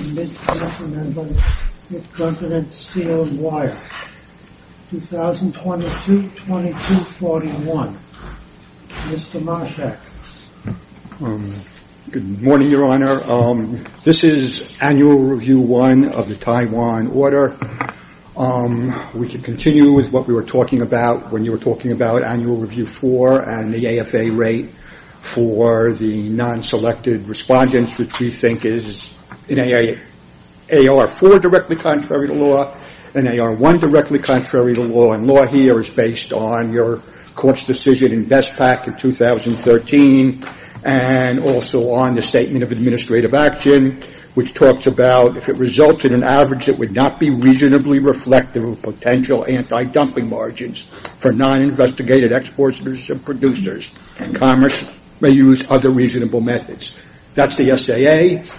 v. Mid-Continent Steel & Wire, 2022-20241, Mr. Masek. Good morning, Your Honor. This is Annual Review 1 of the Taiwan Order. We can continue with what we were talking about when you were talking about Annual Review 4 and the AFA rate for the non-selected respondents, which we think is an AR-4 directly contrary to law, an AR-1 directly contrary to law, and law here is based on your court's decision in BESPAC in 2013, and also on the Statement of Administrative Action, which talks about if it results in an average that would not be reasonably reflective of potential anti-dumping margins for non-investigated exporters and producers, and commerce may use other reasonable methods. That's the SAA.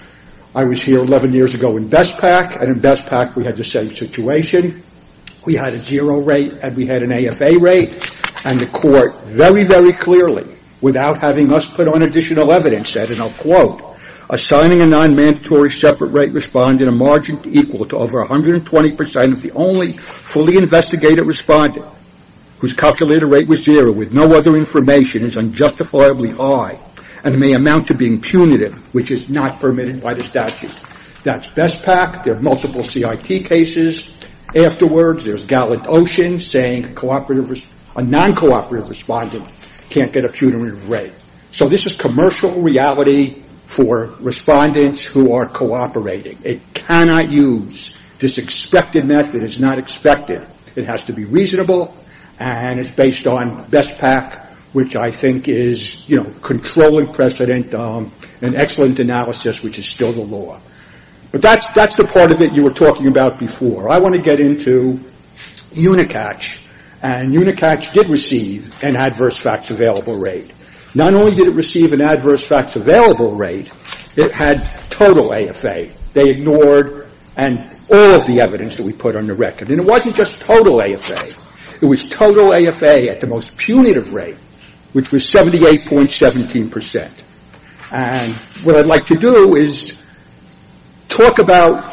I was here 11 years ago in BESPAC, and in BESPAC we had the same situation. We had a zero rate, and we had an AFA rate, and the court very, very clearly, without having us put on additional evidence, said, and I'll quote, assigning a non-mandatory separate rate respondent a margin equal to over 120% of the only fully investigated respondent whose calculated rate was zero with no other information is unjustifiably high and may amount to being punitive, which is not permitted by the statute. That's BESPAC. There are multiple CIT cases afterwards. There's Gallant Ocean saying a non-cooperative respondent can't get a punitive rate. So this is commercial reality for respondents who are cooperating. It cannot use this expected method. It's not expected. It has to be reasonable, and it's based on BESPAC, which I think is, you know, controlling precedent and excellent analysis, which is still the law. But that's the part of it you were talking about before. I want to get into Unicatch, and Unicatch did receive an adverse facts available rate. Not only did it receive an adverse facts available rate, it had total AFA. They ignored and all of the evidence that we put on the record. And it wasn't just total AFA. It was total AFA at the most punitive rate, which was 78.17%. And what I'd like to do is talk about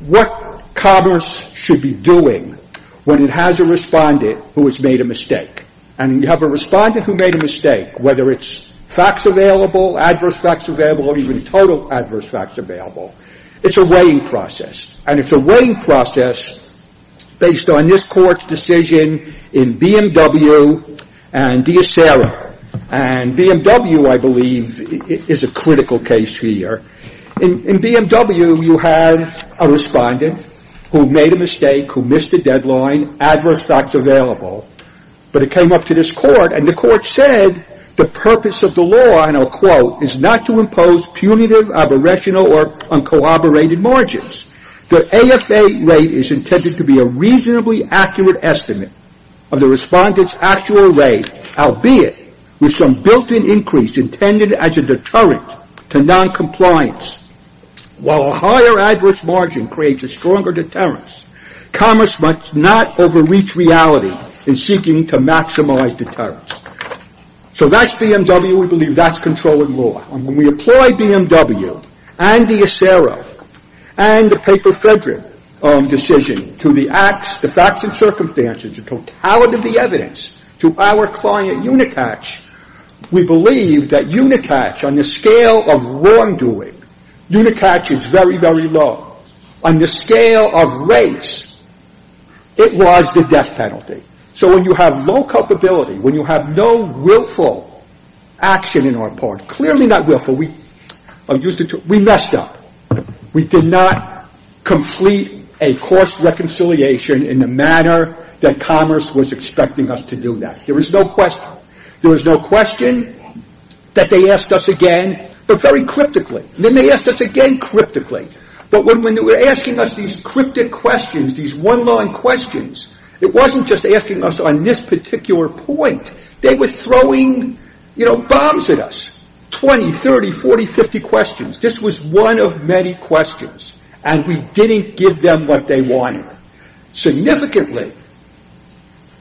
what commerce should be doing when it has a respondent who has made a mistake. And you have a respondent who made a mistake, whether it's facts available, adverse facts available, or even total adverse facts available. It's a weighing process. And it's a weighing process based on this Court's decision in BMW and D'Acera. And BMW, I believe, is a critical case here. In BMW, you had a respondent who made a mistake, who missed a deadline, adverse facts available. But it came up to this Court, and the Court said the purpose of the law, and I'll quote, is not to impose punitive, aberrational, or uncooperated margins. The AFA rate is intended to be a reasonably accurate estimate of the respondent's actual rate, albeit with some built-in increase intended as a deterrent to noncompliance. While a higher adverse margin creates a stronger deterrence, commerce must not overreach reality in seeking to maximize deterrence. So that's BMW. We believe that's controlling law. And when we apply BMW and D'Acera and the paper Frederick decision to the facts and circumstances, the totality of the evidence, to our client Unicatch, we believe that Unicatch, on the scale of wrongdoing, Unicatch is very, very low. On the scale of rates, it was the death penalty. So when you have low culpability, when you have no willful action in our part, clearly not willful. We messed up. We did not complete a course reconciliation in the manner that commerce was expecting us to do that. There was no question. There was no question that they asked us again, but very cryptically. Then they asked us again cryptically. But when they were asking us these cryptic questions, these one-line questions, it wasn't just asking us on this particular point. They were throwing bombs at us. 20, 30, 40, 50 questions. This was one of many questions. And we didn't give them what they wanted. Significantly,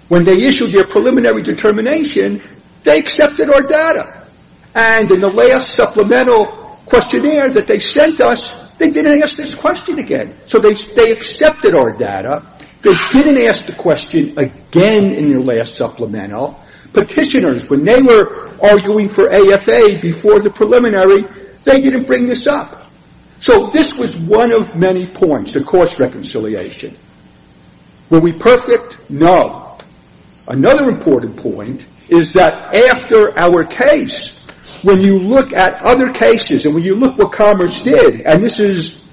when they issued their preliminary determination, they accepted our data. And in the last supplemental questionnaire that they sent us, they didn't ask this question again. So they accepted our data. They didn't ask the question again in their last supplemental. Petitioners, when they were arguing for AFA before the preliminary, they didn't bring this up. So this was one of many points, the course reconciliation. Were we perfect? No. Another important point is that after our case, when you look at other cases and when you look at what Commerce did, and this is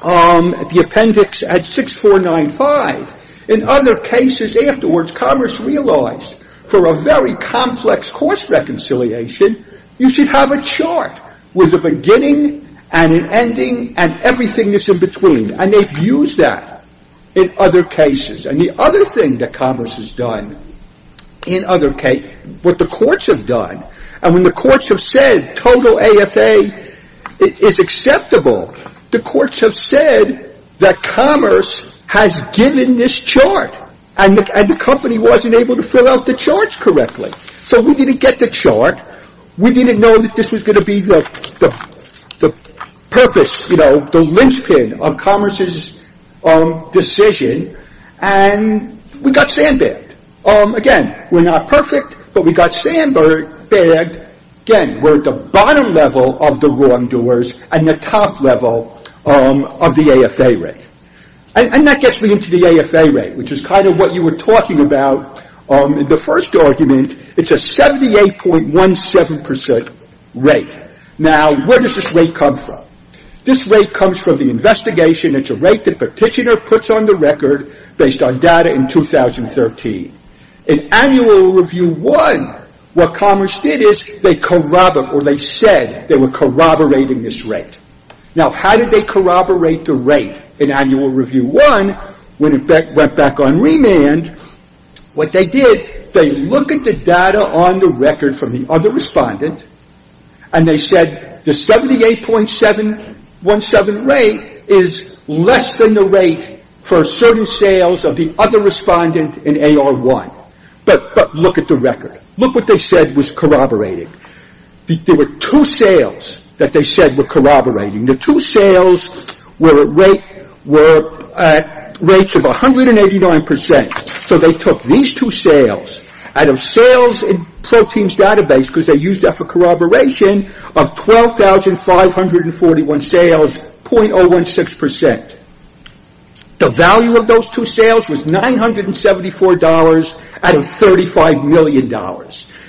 the appendix at 6495, in other cases afterwards, Commerce realized for a very complex course reconciliation, you should have a chart with a beginning and an ending and everything that's in between. And they've used that in other cases. And the other thing that Commerce has done in other cases, what the courts have done, and when the courts have said total AFA is acceptable, the courts have said that Commerce has given this chart. And the company wasn't able to fill out the charts correctly. So we didn't get the chart. We didn't know that this was going to be the purpose, you know, the linchpin of Commerce's decision. And we got sandbagged. Again, we're not perfect, but we got sandbagged. Again, we're at the bottom level of the wrongdoers and the top level of the AFA rate. And that gets me into the AFA rate, which is kind of what you were talking about in the first argument. It's a 78.17 percent rate. Now, where does this rate come from? This rate comes from the investigation. It's a rate that Petitioner puts on the record based on data in 2013. In annual review one, what Commerce did is they corroborate, or they said they were corroborating this rate. Now, how did they corroborate the rate in annual review one when it went back on remand? What they did, they look at the data on the record from the other respondent, and they said the 78.17 rate is less than the rate for certain sales of the other respondent in AR1. But look at the record. Look what they said was corroborated. There were two sales that they said were corroborating. The two sales were at rates of 189 percent. So they took these two sales out of sales in Pro Team's database, because they used that for corroboration, of 12,541 sales, .016 percent. The value of those two sales was $974 out of $35 million.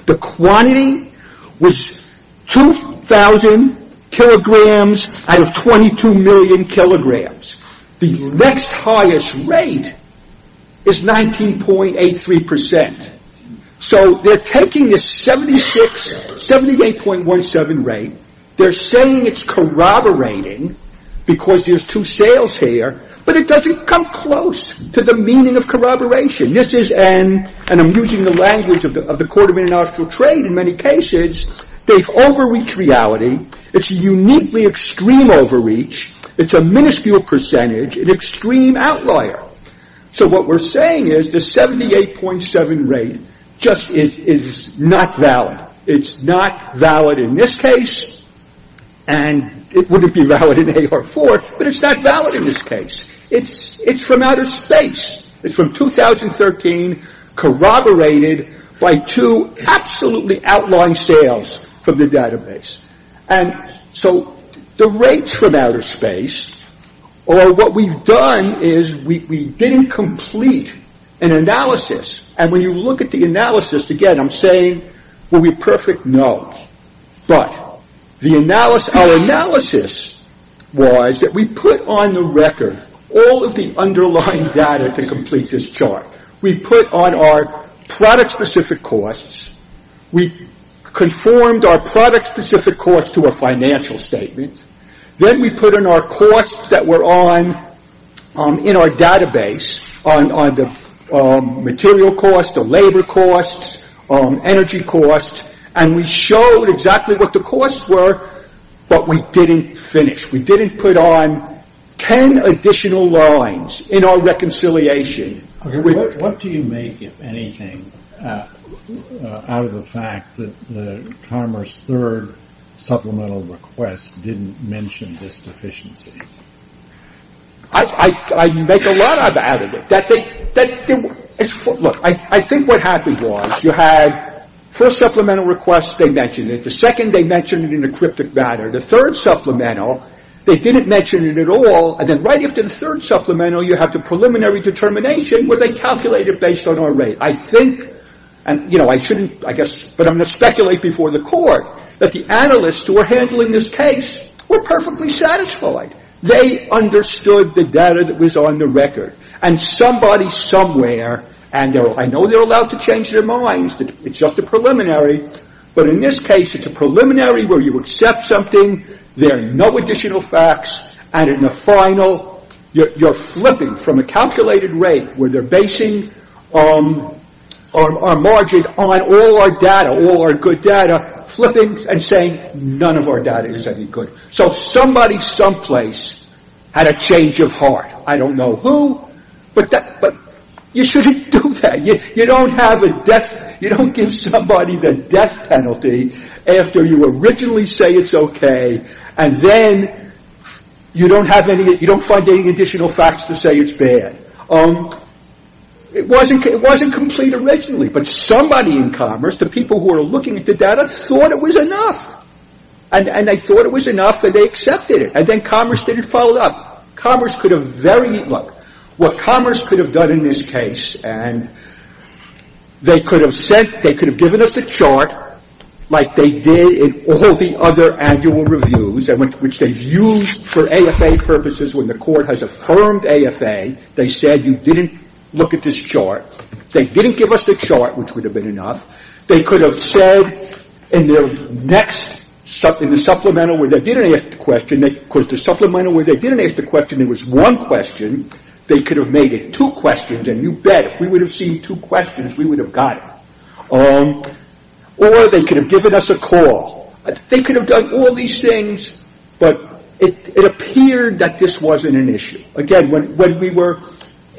The quantity was 2,000 kilograms out of 22 million kilograms. The next highest rate is 19.83 percent. So they're taking this 78.17 rate. They're saying it's corroborating because there's two sales here, but it doesn't come close to the meaning of corroboration. This is an, and I'm using the language of the Court of International Trade in many cases, they've overreached reality. It's a uniquely extreme overreach. It's a minuscule percentage, an extreme outlier. So what we're saying is the 78.7 rate just is not valid. It's not valid in this case, and it wouldn't be valid in AR4, but it's not valid in this case. It's from outer space. It's from 2013 corroborated by two absolutely outlying sales from the database. And so the rates from outer space, or what we've done is we didn't complete an analysis. And when you look at the analysis, again, I'm saying, will we perfect? No. But the analysis, our analysis was that we put on the record all of the underlying data to complete this chart. We put on our product-specific costs. We conformed our product-specific costs to a financial statement. Then we put in our costs that were on, in our database, on the material costs, the labor costs, energy costs, and we showed exactly what the costs were, but we didn't finish. We didn't put on 10 additional lines in our reconciliation. As I said before, we don't perform aninenation. What do you make, if anything, out of the fact that the commerce third supplemental request didn't mention this deficiency? I make a lot out of it. Look, I think what happened was you had first supplemental request, they mentioned it. The second, they mentioned it in a cryptic manner. The third supplemental, they didn't mention it at all. And then right after the third supplemental, you have the preliminary determination, where they calculate it based on our rate. I think, and, you know, I shouldn't, I guess, but I'm going to speculate before the court that the analysts who were handling this case were perfectly satisfied. They understood the data that was on the record. And somebody somewhere, and I know they're allowed to change their minds, it's just a preliminary, but in this case, it's a preliminary where you accept something, there are no additional facts, and in the final, you're flipping from a calculated rate where they're basing our margin on all our data, all our good data, flipping and saying none of our data is any good. So somebody someplace had a change of heart. I don't know who, but you shouldn't do that. You don't have a death, you don't give somebody the death penalty after you originally say it's okay, and then you don't have any, you don't find any additional facts to say it's bad. It wasn't complete originally, but somebody in Commerce, the people who are looking at the data, thought it was enough. And they thought it was enough that they accepted it. And then Commerce didn't follow up. Commerce could have very, look, what Commerce could have done in this case, and they could have sent, they could have given us a chart like they did in all the other annual reviews, which they've used for AFA purposes when the court has affirmed AFA. They said you didn't look at this chart. They didn't give us the chart, which would have been enough. They could have said in their next, in the supplemental where they didn't ask the question, because the supplemental where they didn't ask the question, there was one question, they could have made it two questions, and you bet, if we would have seen two questions, we would have got it. Or they could have given us a call. They could have done all these things, but it appeared that this wasn't an issue. Again, when we were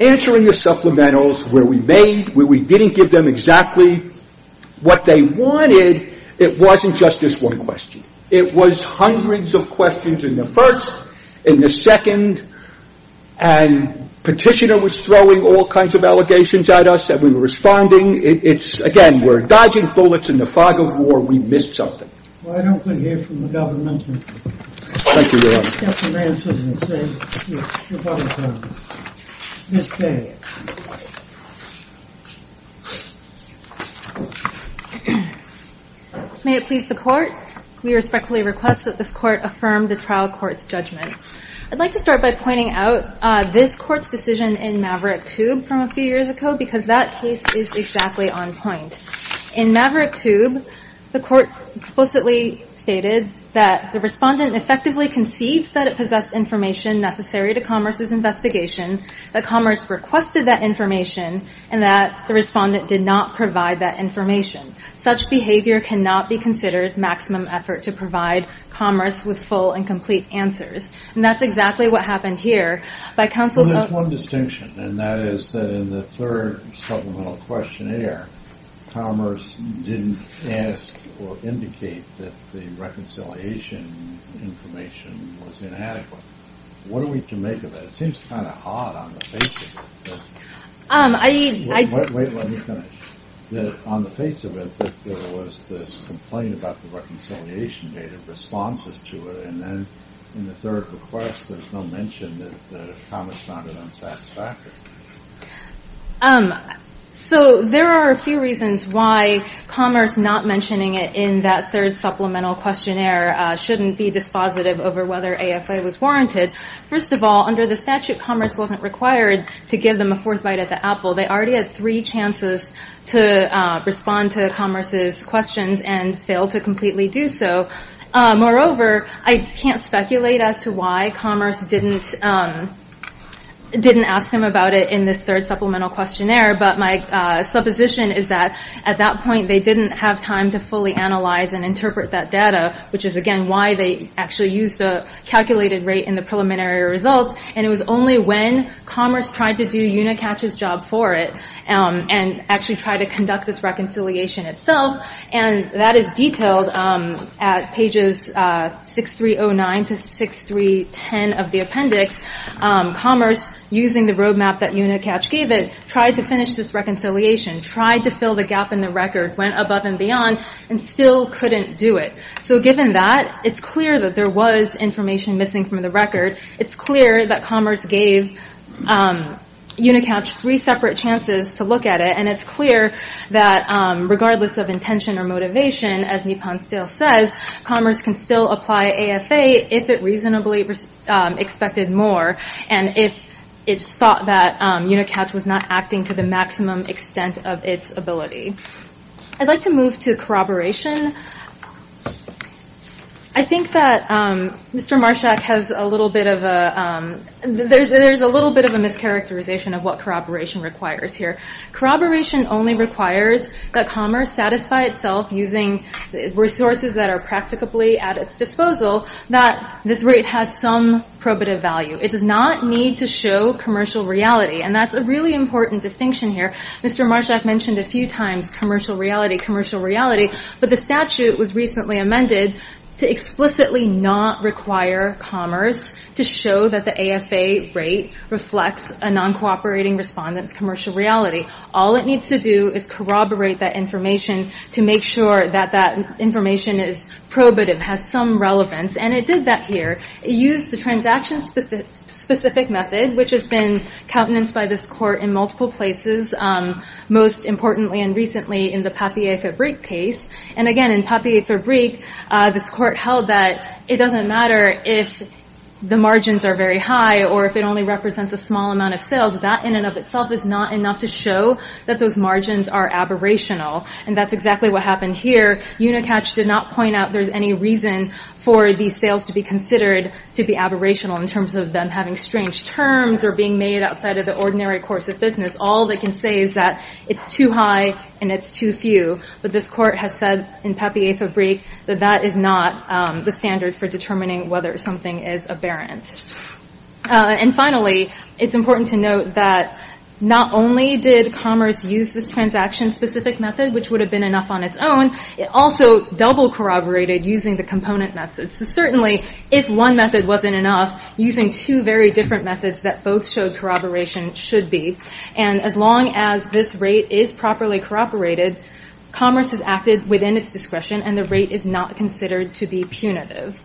answering the supplementals where we made, where we didn't give them exactly what they wanted, it wasn't just this one question. It was hundreds of questions in the first, in the second, and Petitioner was throwing all kinds of allegations at us that we were responding. It's, again, we're dodging bullets in the fog of war. We missed something. Well, I don't think it's from the government. Thank you, Your Honor. Justice Bransford, you can say what you want to say. Ms. Day. May it please the court. We respectfully request that this court affirm the trial court's judgment. I'd like to start by pointing out this court's decision in Maverick Tube from a few years ago, because that case is exactly on point. In Maverick Tube, the court explicitly stated that the respondent effectively concedes that it possessed information necessary to Commerce's investigation, that Commerce requested that information, and that the respondent did not provide that information. Such behavior cannot be considered maximum effort to provide Commerce with full and complete answers. And that's exactly what happened here. There's one distinction, and that is that in the third supplemental questionnaire, Commerce didn't ask or indicate that the reconciliation information was inadequate. What are we to make of that? It seems kind of odd on the face of it. Wait, wait, let me finish. On the face of it, there was this complaint about the reconciliation data, responses to it, and then in the third request, there's no mention that Commerce found it unsatisfactory. So there are a few reasons why Commerce not mentioning it in that third supplemental questionnaire shouldn't be dispositive over whether AFA was warranted. First of all, under the statute, Commerce wasn't required to give them a fourth bite at the apple. They already had three chances to respond to Commerce's questions and failed to completely do so. Moreover, I can't speculate as to why Commerce didn't ask them about it in this third supplemental questionnaire, but my supposition is that at that point, they didn't have time to fully analyze and interpret that data, which is again why they actually used a calculated rate in the preliminary results. And it was only when Commerce tried to do Unicatch's job for it and actually tried to conduct this reconciliation itself, and that is detailed at pages 6309 to 6310 of the appendix, Commerce, using the roadmap that Unicatch gave it, tried to finish this reconciliation, tried to fill the gap in the record, went above and beyond, and still couldn't do it. So given that, it's clear that there was information missing from the record. It's clear that Commerce gave Unicatch three separate chances to look at it, and it's clear that regardless of intention or motivation, as Nippon still says, Commerce can still apply AFA if it reasonably expected more, and if it's thought that Unicatch was not acting to the maximum extent of its ability. I'd like to move to corroboration. I think that Mr. Marshak has a little bit of a, there's a little bit of a mischaracterization of what corroboration requires here. Corroboration only requires that Commerce satisfy itself using resources that are practicably at its disposal, that this rate has some probative value. It does not need to show commercial reality, and that's a really important distinction here. Mr. Marshak mentioned a few times commercial reality, commercial reality, but the statute was recently amended to explicitly not require Commerce to show that the AFA rate reflects a non-cooperating respondent's commercial reality. All it needs to do is corroborate that information to make sure that that information is probative, has some relevance, and it did that here. It used the transaction-specific method, which has been countenanced by this Court in multiple places, most importantly and recently in the Papier-Fabrique case, and again, in Papier-Fabrique, this Court held that it doesn't matter if the margins are very high or if it only represents a small amount of sales, that in and of itself is not enough to show that those margins are aberrational, and that's exactly what happened here. Unicatch did not point out there's any reason for these sales to be considered to be aberrational in terms of them having strange terms or being made outside of the ordinary course of business. All they can say is that it's too high and it's too few, but this Court has said in Papier-Fabrique that that is not the standard for determining whether something is aberrant. And finally, it's important to note that not only did Commerce use this transaction-specific method, which would have been enough on its own, it also double-corroborated using the component method. So certainly, if one method wasn't enough, using two very different methods that both showed corroboration should be. And as long as this rate is properly corroborated, Commerce has acted within its discretion and the rate is not considered to be punitive.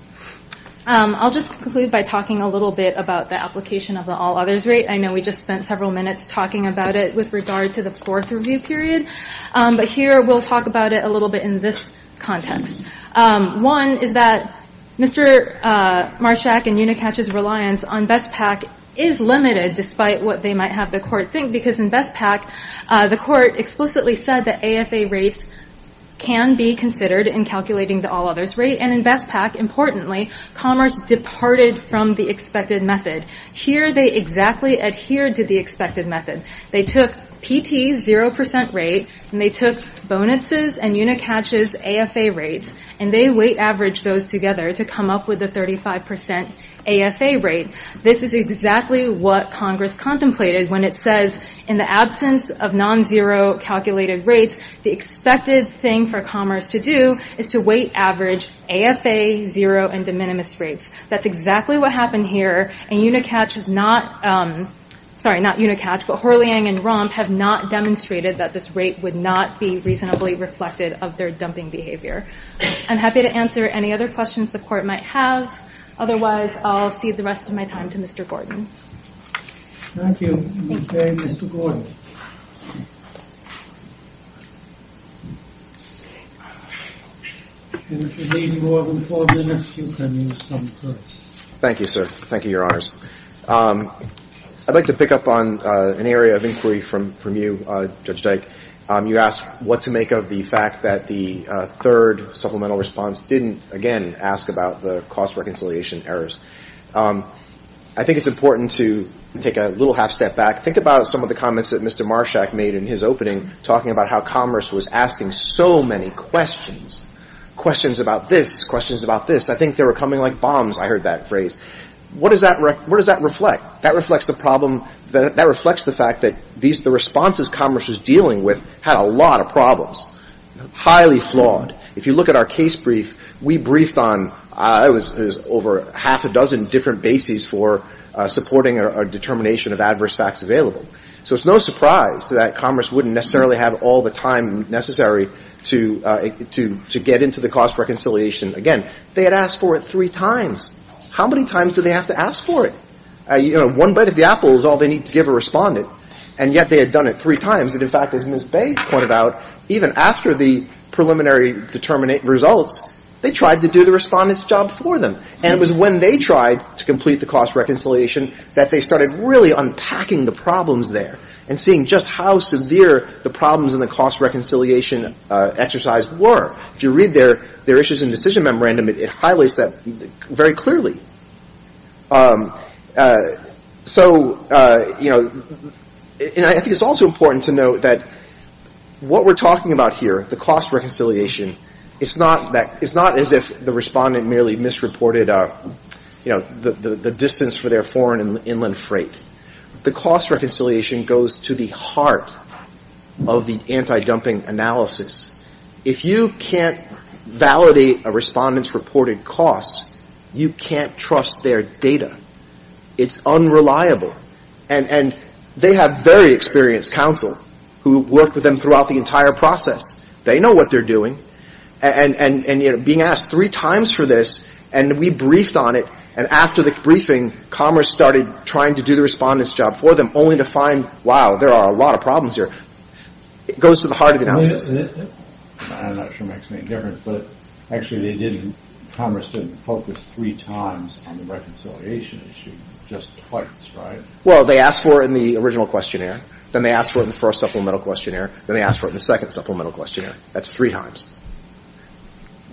I'll just conclude by talking a little bit about the application of the all-others rate. I know we just spent several minutes talking about it with regard to the fourth review period, but here we'll talk about it a little bit in this context. One is that Mr. Marshak and Unicatch's reliance on BESPAC is limited, despite what they might have the Court think, because in BESPAC, the Court explicitly said that AFA rates can be considered in calculating the all-others rate. And in BESPAC, importantly, Commerce departed from the expected method. Here, they exactly adhered to the expected method. They took PT's 0% rate, and they took Bonitz's and Unicatch's AFA rates, and they weight-averaged those together to come up with a 35% AFA rate. This is exactly what Congress contemplated when it says, in the absence of non-zero calculated rates, the expected thing for Commerce to do is to weight-average AFA, zero, and de minimis rates. That's exactly what happened here, and Unicatch has not, sorry, not Unicatch, but Horliang and Romp have not demonstrated that this rate would not be reasonably reflected of their dumping behavior. I'm happy to answer any other questions the Court might have. Otherwise, I'll cede the rest of my time to Mr. Gordon. Thank you. Okay, Mr. Gordon. If you need more than four minutes, you can use thumb press. Thank you, sir. Thank you, Your Honors. I'd like to pick up on an area of inquiry from you, Judge Dyke. You asked what to make of the fact that the third supplemental response didn't, again, ask about the cost-reconciliation errors. I think it's important to take a little half-step back. in his opening, talking about how Commerce was asking so many questions, questions about this, questions about this. I think they were coming like bombs. I heard that phrase. What does that reflect? That reflects the problem. That reflects the fact that the responses Commerce was dealing with had a lot of problems, highly flawed. If you look at our case brief, we briefed on over half a dozen different bases for supporting a determination of adverse facts available. So it's no surprise that Commerce wouldn't necessarily have all the time necessary to get into the cost-reconciliation. Again, they had asked for it three times. How many times do they have to ask for it? One bite of the apple is all they need to give a respondent. And yet they had done it three times. And, in fact, as Ms. Bay pointed out, even after the preliminary results, they tried to do the respondent's job for them. And it was when they tried to complete the cost-reconciliation that they started really unpacking the problems there and seeing just how severe the problems in the cost-reconciliation exercise were. If you read their issues and decision memorandum, it highlights that very clearly. So, you know, and I think it's also important to note that what we're talking about here, the cost-reconciliation, it's not as if the respondent merely misreported, you know, the distance for their foreign and inland freight. The cost-reconciliation goes to the heart of the anti-dumping analysis. If you can't validate a respondent's reported costs, you can't trust their data. It's unreliable. And they have very experienced counsel who worked with them throughout the entire process. They know what they're doing. And, you know, being asked three times for this, and we briefed on it, and after the briefing, Commerce started trying to do the respondent's job for them, only to find, wow, there are a lot of problems here. It goes to the heart of the analysis. I'm not sure it makes any difference. But, actually, Commerce didn't focus three times on the reconciliation issue, just twice, right? Well, they asked for it in the original questionnaire. Then they asked for it in the first supplemental questionnaire. Then they asked for it in the second supplemental questionnaire. That's three times.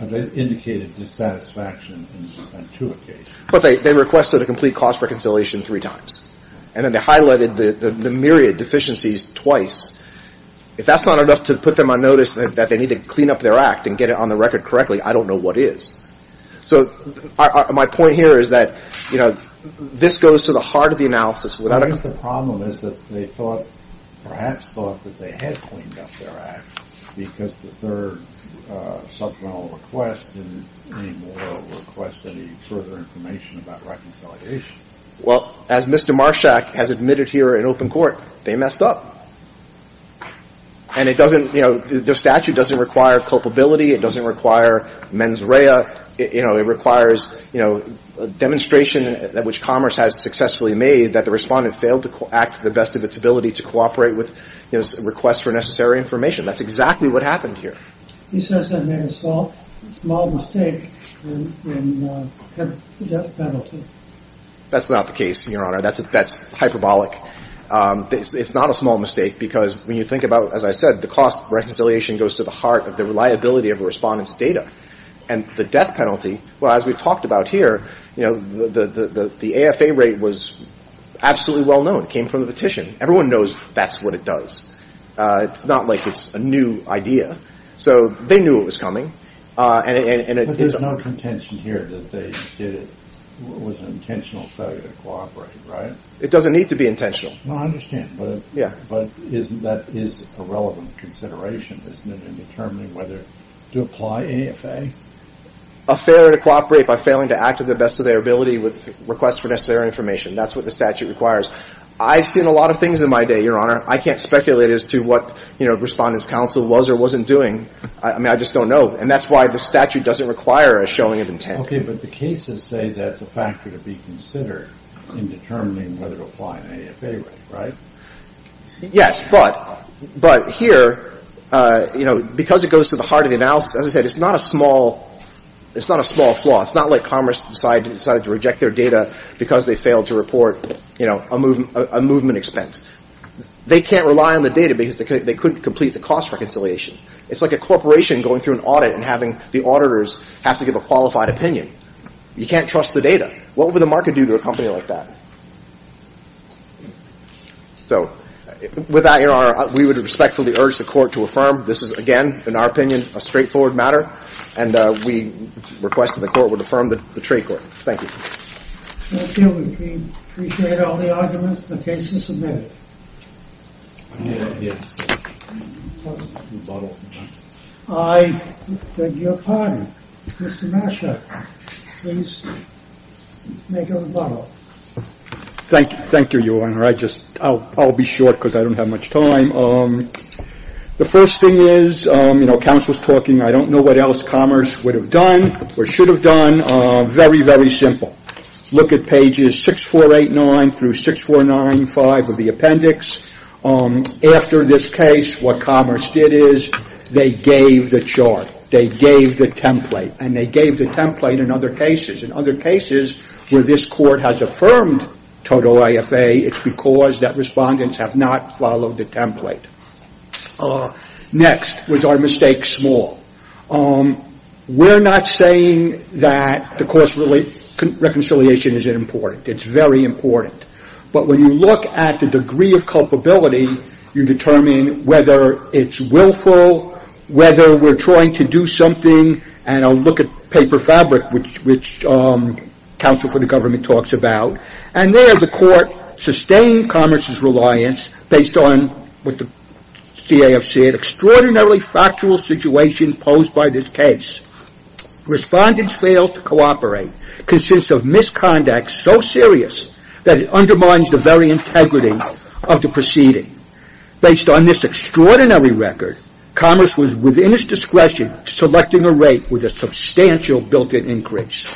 They indicated dissatisfaction on two occasions. But they requested a complete cost-reconciliation three times. And then they highlighted the myriad deficiencies twice. If that's not enough to put them on notice that they need to clean up their act and get it on the record correctly, I don't know what is. So my point here is that, you know, this goes to the heart of the analysis. I guess the problem is that they thought, perhaps thought that they had cleaned up their act because the third supplemental request didn't need more or request any further information about reconciliation. Well, as Mr. Marshak has admitted here in open court, they messed up. And it doesn't, you know, their statute doesn't require culpability. It doesn't require mens rea. It requires, you know, a demonstration which Commerce has successfully made that the respondent failed to act to the best of its ability to cooperate with requests for necessary information. That's exactly what happened here. He says they made a small mistake in the death penalty. That's not the case, Your Honor. That's hyperbolic. It's not a small mistake because when you think about, as I said, the cost of reconciliation goes to the heart of the reliability of a respondent's data. And the death penalty, well, as we've talked about here, you know, the AFA rate was absolutely well known. It came from the petition. Everyone knows that's what it does. It's not like it's a new idea. So they knew it was coming. But there's no contention here that they did it with an intentional failure to cooperate, right? It doesn't need to be intentional. No, I understand. But that is a relevant consideration, isn't it, in determining whether to apply AFA? A failure to cooperate by failing to act to the best of their ability with requests for necessary information. That's what the statute requires. I've seen a lot of things in my day, Your Honor. I can't speculate as to what, you know, Respondent's Counsel was or wasn't doing. I mean, I just don't know. And that's why the statute doesn't require a showing of intent. Okay. But the cases say that's a factor to be considered in determining whether to apply an AFA rate, right? Yes. But here, because it goes to the heart of the analysis, as I said, it's not a small flaw. It's not like Commerce decided to reject their data because they failed to report a movement expense. They can't rely on the data because they couldn't complete the cost reconciliation. It's like a corporation going through an audit and having the auditors have to give a qualified opinion. You can't trust the data. What would the market do to a company like that? So with that, Your Honor, we would respectfully urge the Court to affirm. This is, again, in our opinion, a straightforward matter. And we request that the Court would affirm the trade court. Thank you. Thank you. We appreciate all the arguments. The case is submitted. I need a rebuttal. I beg your pardon. Mr. Nasher, please make a rebuttal. Thank you. Thank you, Your Honor. I'll be short because I don't have much time. The first thing is, you know, counsel is talking. I don't know what else Commerce would have done or should have done. Very, very simple. Look at pages 6489 through 6495 of the appendix. After this case, what Commerce did is they gave the chart. They gave the template. And they gave the template in other cases. Where this Court has affirmed total IFA, it's because that respondents have not followed the template. Next was our mistake small. We're not saying that the course reconciliation isn't important. It's very important. But when you look at the degree of culpability, you determine whether it's willful, whether we're trying to do something. And I'll look at paper fabric, which counsel for the government talks about. And there the Court sustained Commerce's reliance based on what the CAFC had. Extraordinarily factual situation posed by this case. Respondents failed to cooperate. Consents of misconduct so serious that it undermines the very integrity of the proceeding. Based on this extraordinary record, Commerce was within its discretion selecting a rate with a substantial built-in increase.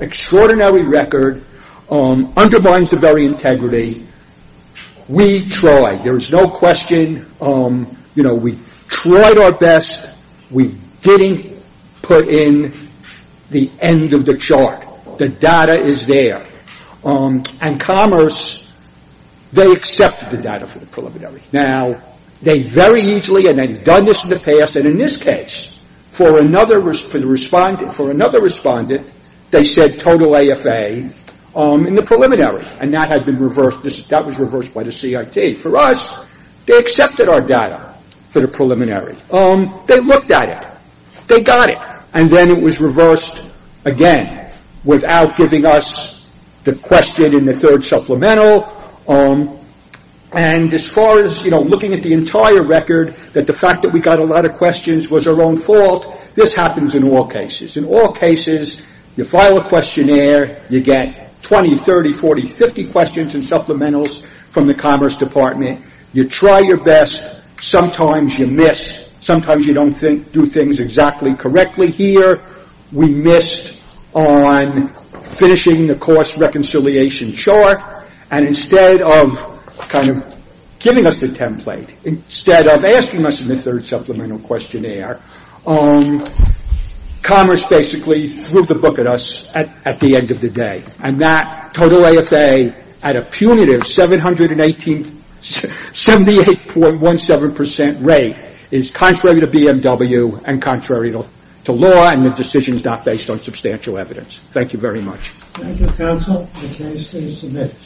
Extraordinary record undermines the very integrity. We tried. There is no question. You know, we tried our best. We didn't put in the end of the chart. The data is there. And Commerce, they accepted the data for the preliminary. Now, they very easily, and they've done this in the past. And in this case, for another respondent, they said total AFA in the preliminary. And that had been reversed. That was reversed by the CIT. For us, they accepted our data for the preliminary. They looked at it. They got it. And then it was reversed again without giving us the question in the third supplemental. And as far as, you know, looking at the entire record, that the fact that we got a lot of questions was our own fault, this happens in all cases. In all cases, you file a questionnaire. You get 20, 30, 40, 50 questions and supplementals from the Commerce Department. You try your best. Sometimes you miss. Sometimes you don't do things exactly correctly. We missed on finishing the cost reconciliation chart. And instead of kind of giving us the template, instead of asking us in the third supplemental questionnaire, Commerce basically threw the book at us at the end of the day. And that total AFA at a punitive 78.17% rate is contrary to BMW and contrary to law. And the decision is not based on substantial evidence. Thank you very much. Thank you, counsel. The case is submitted.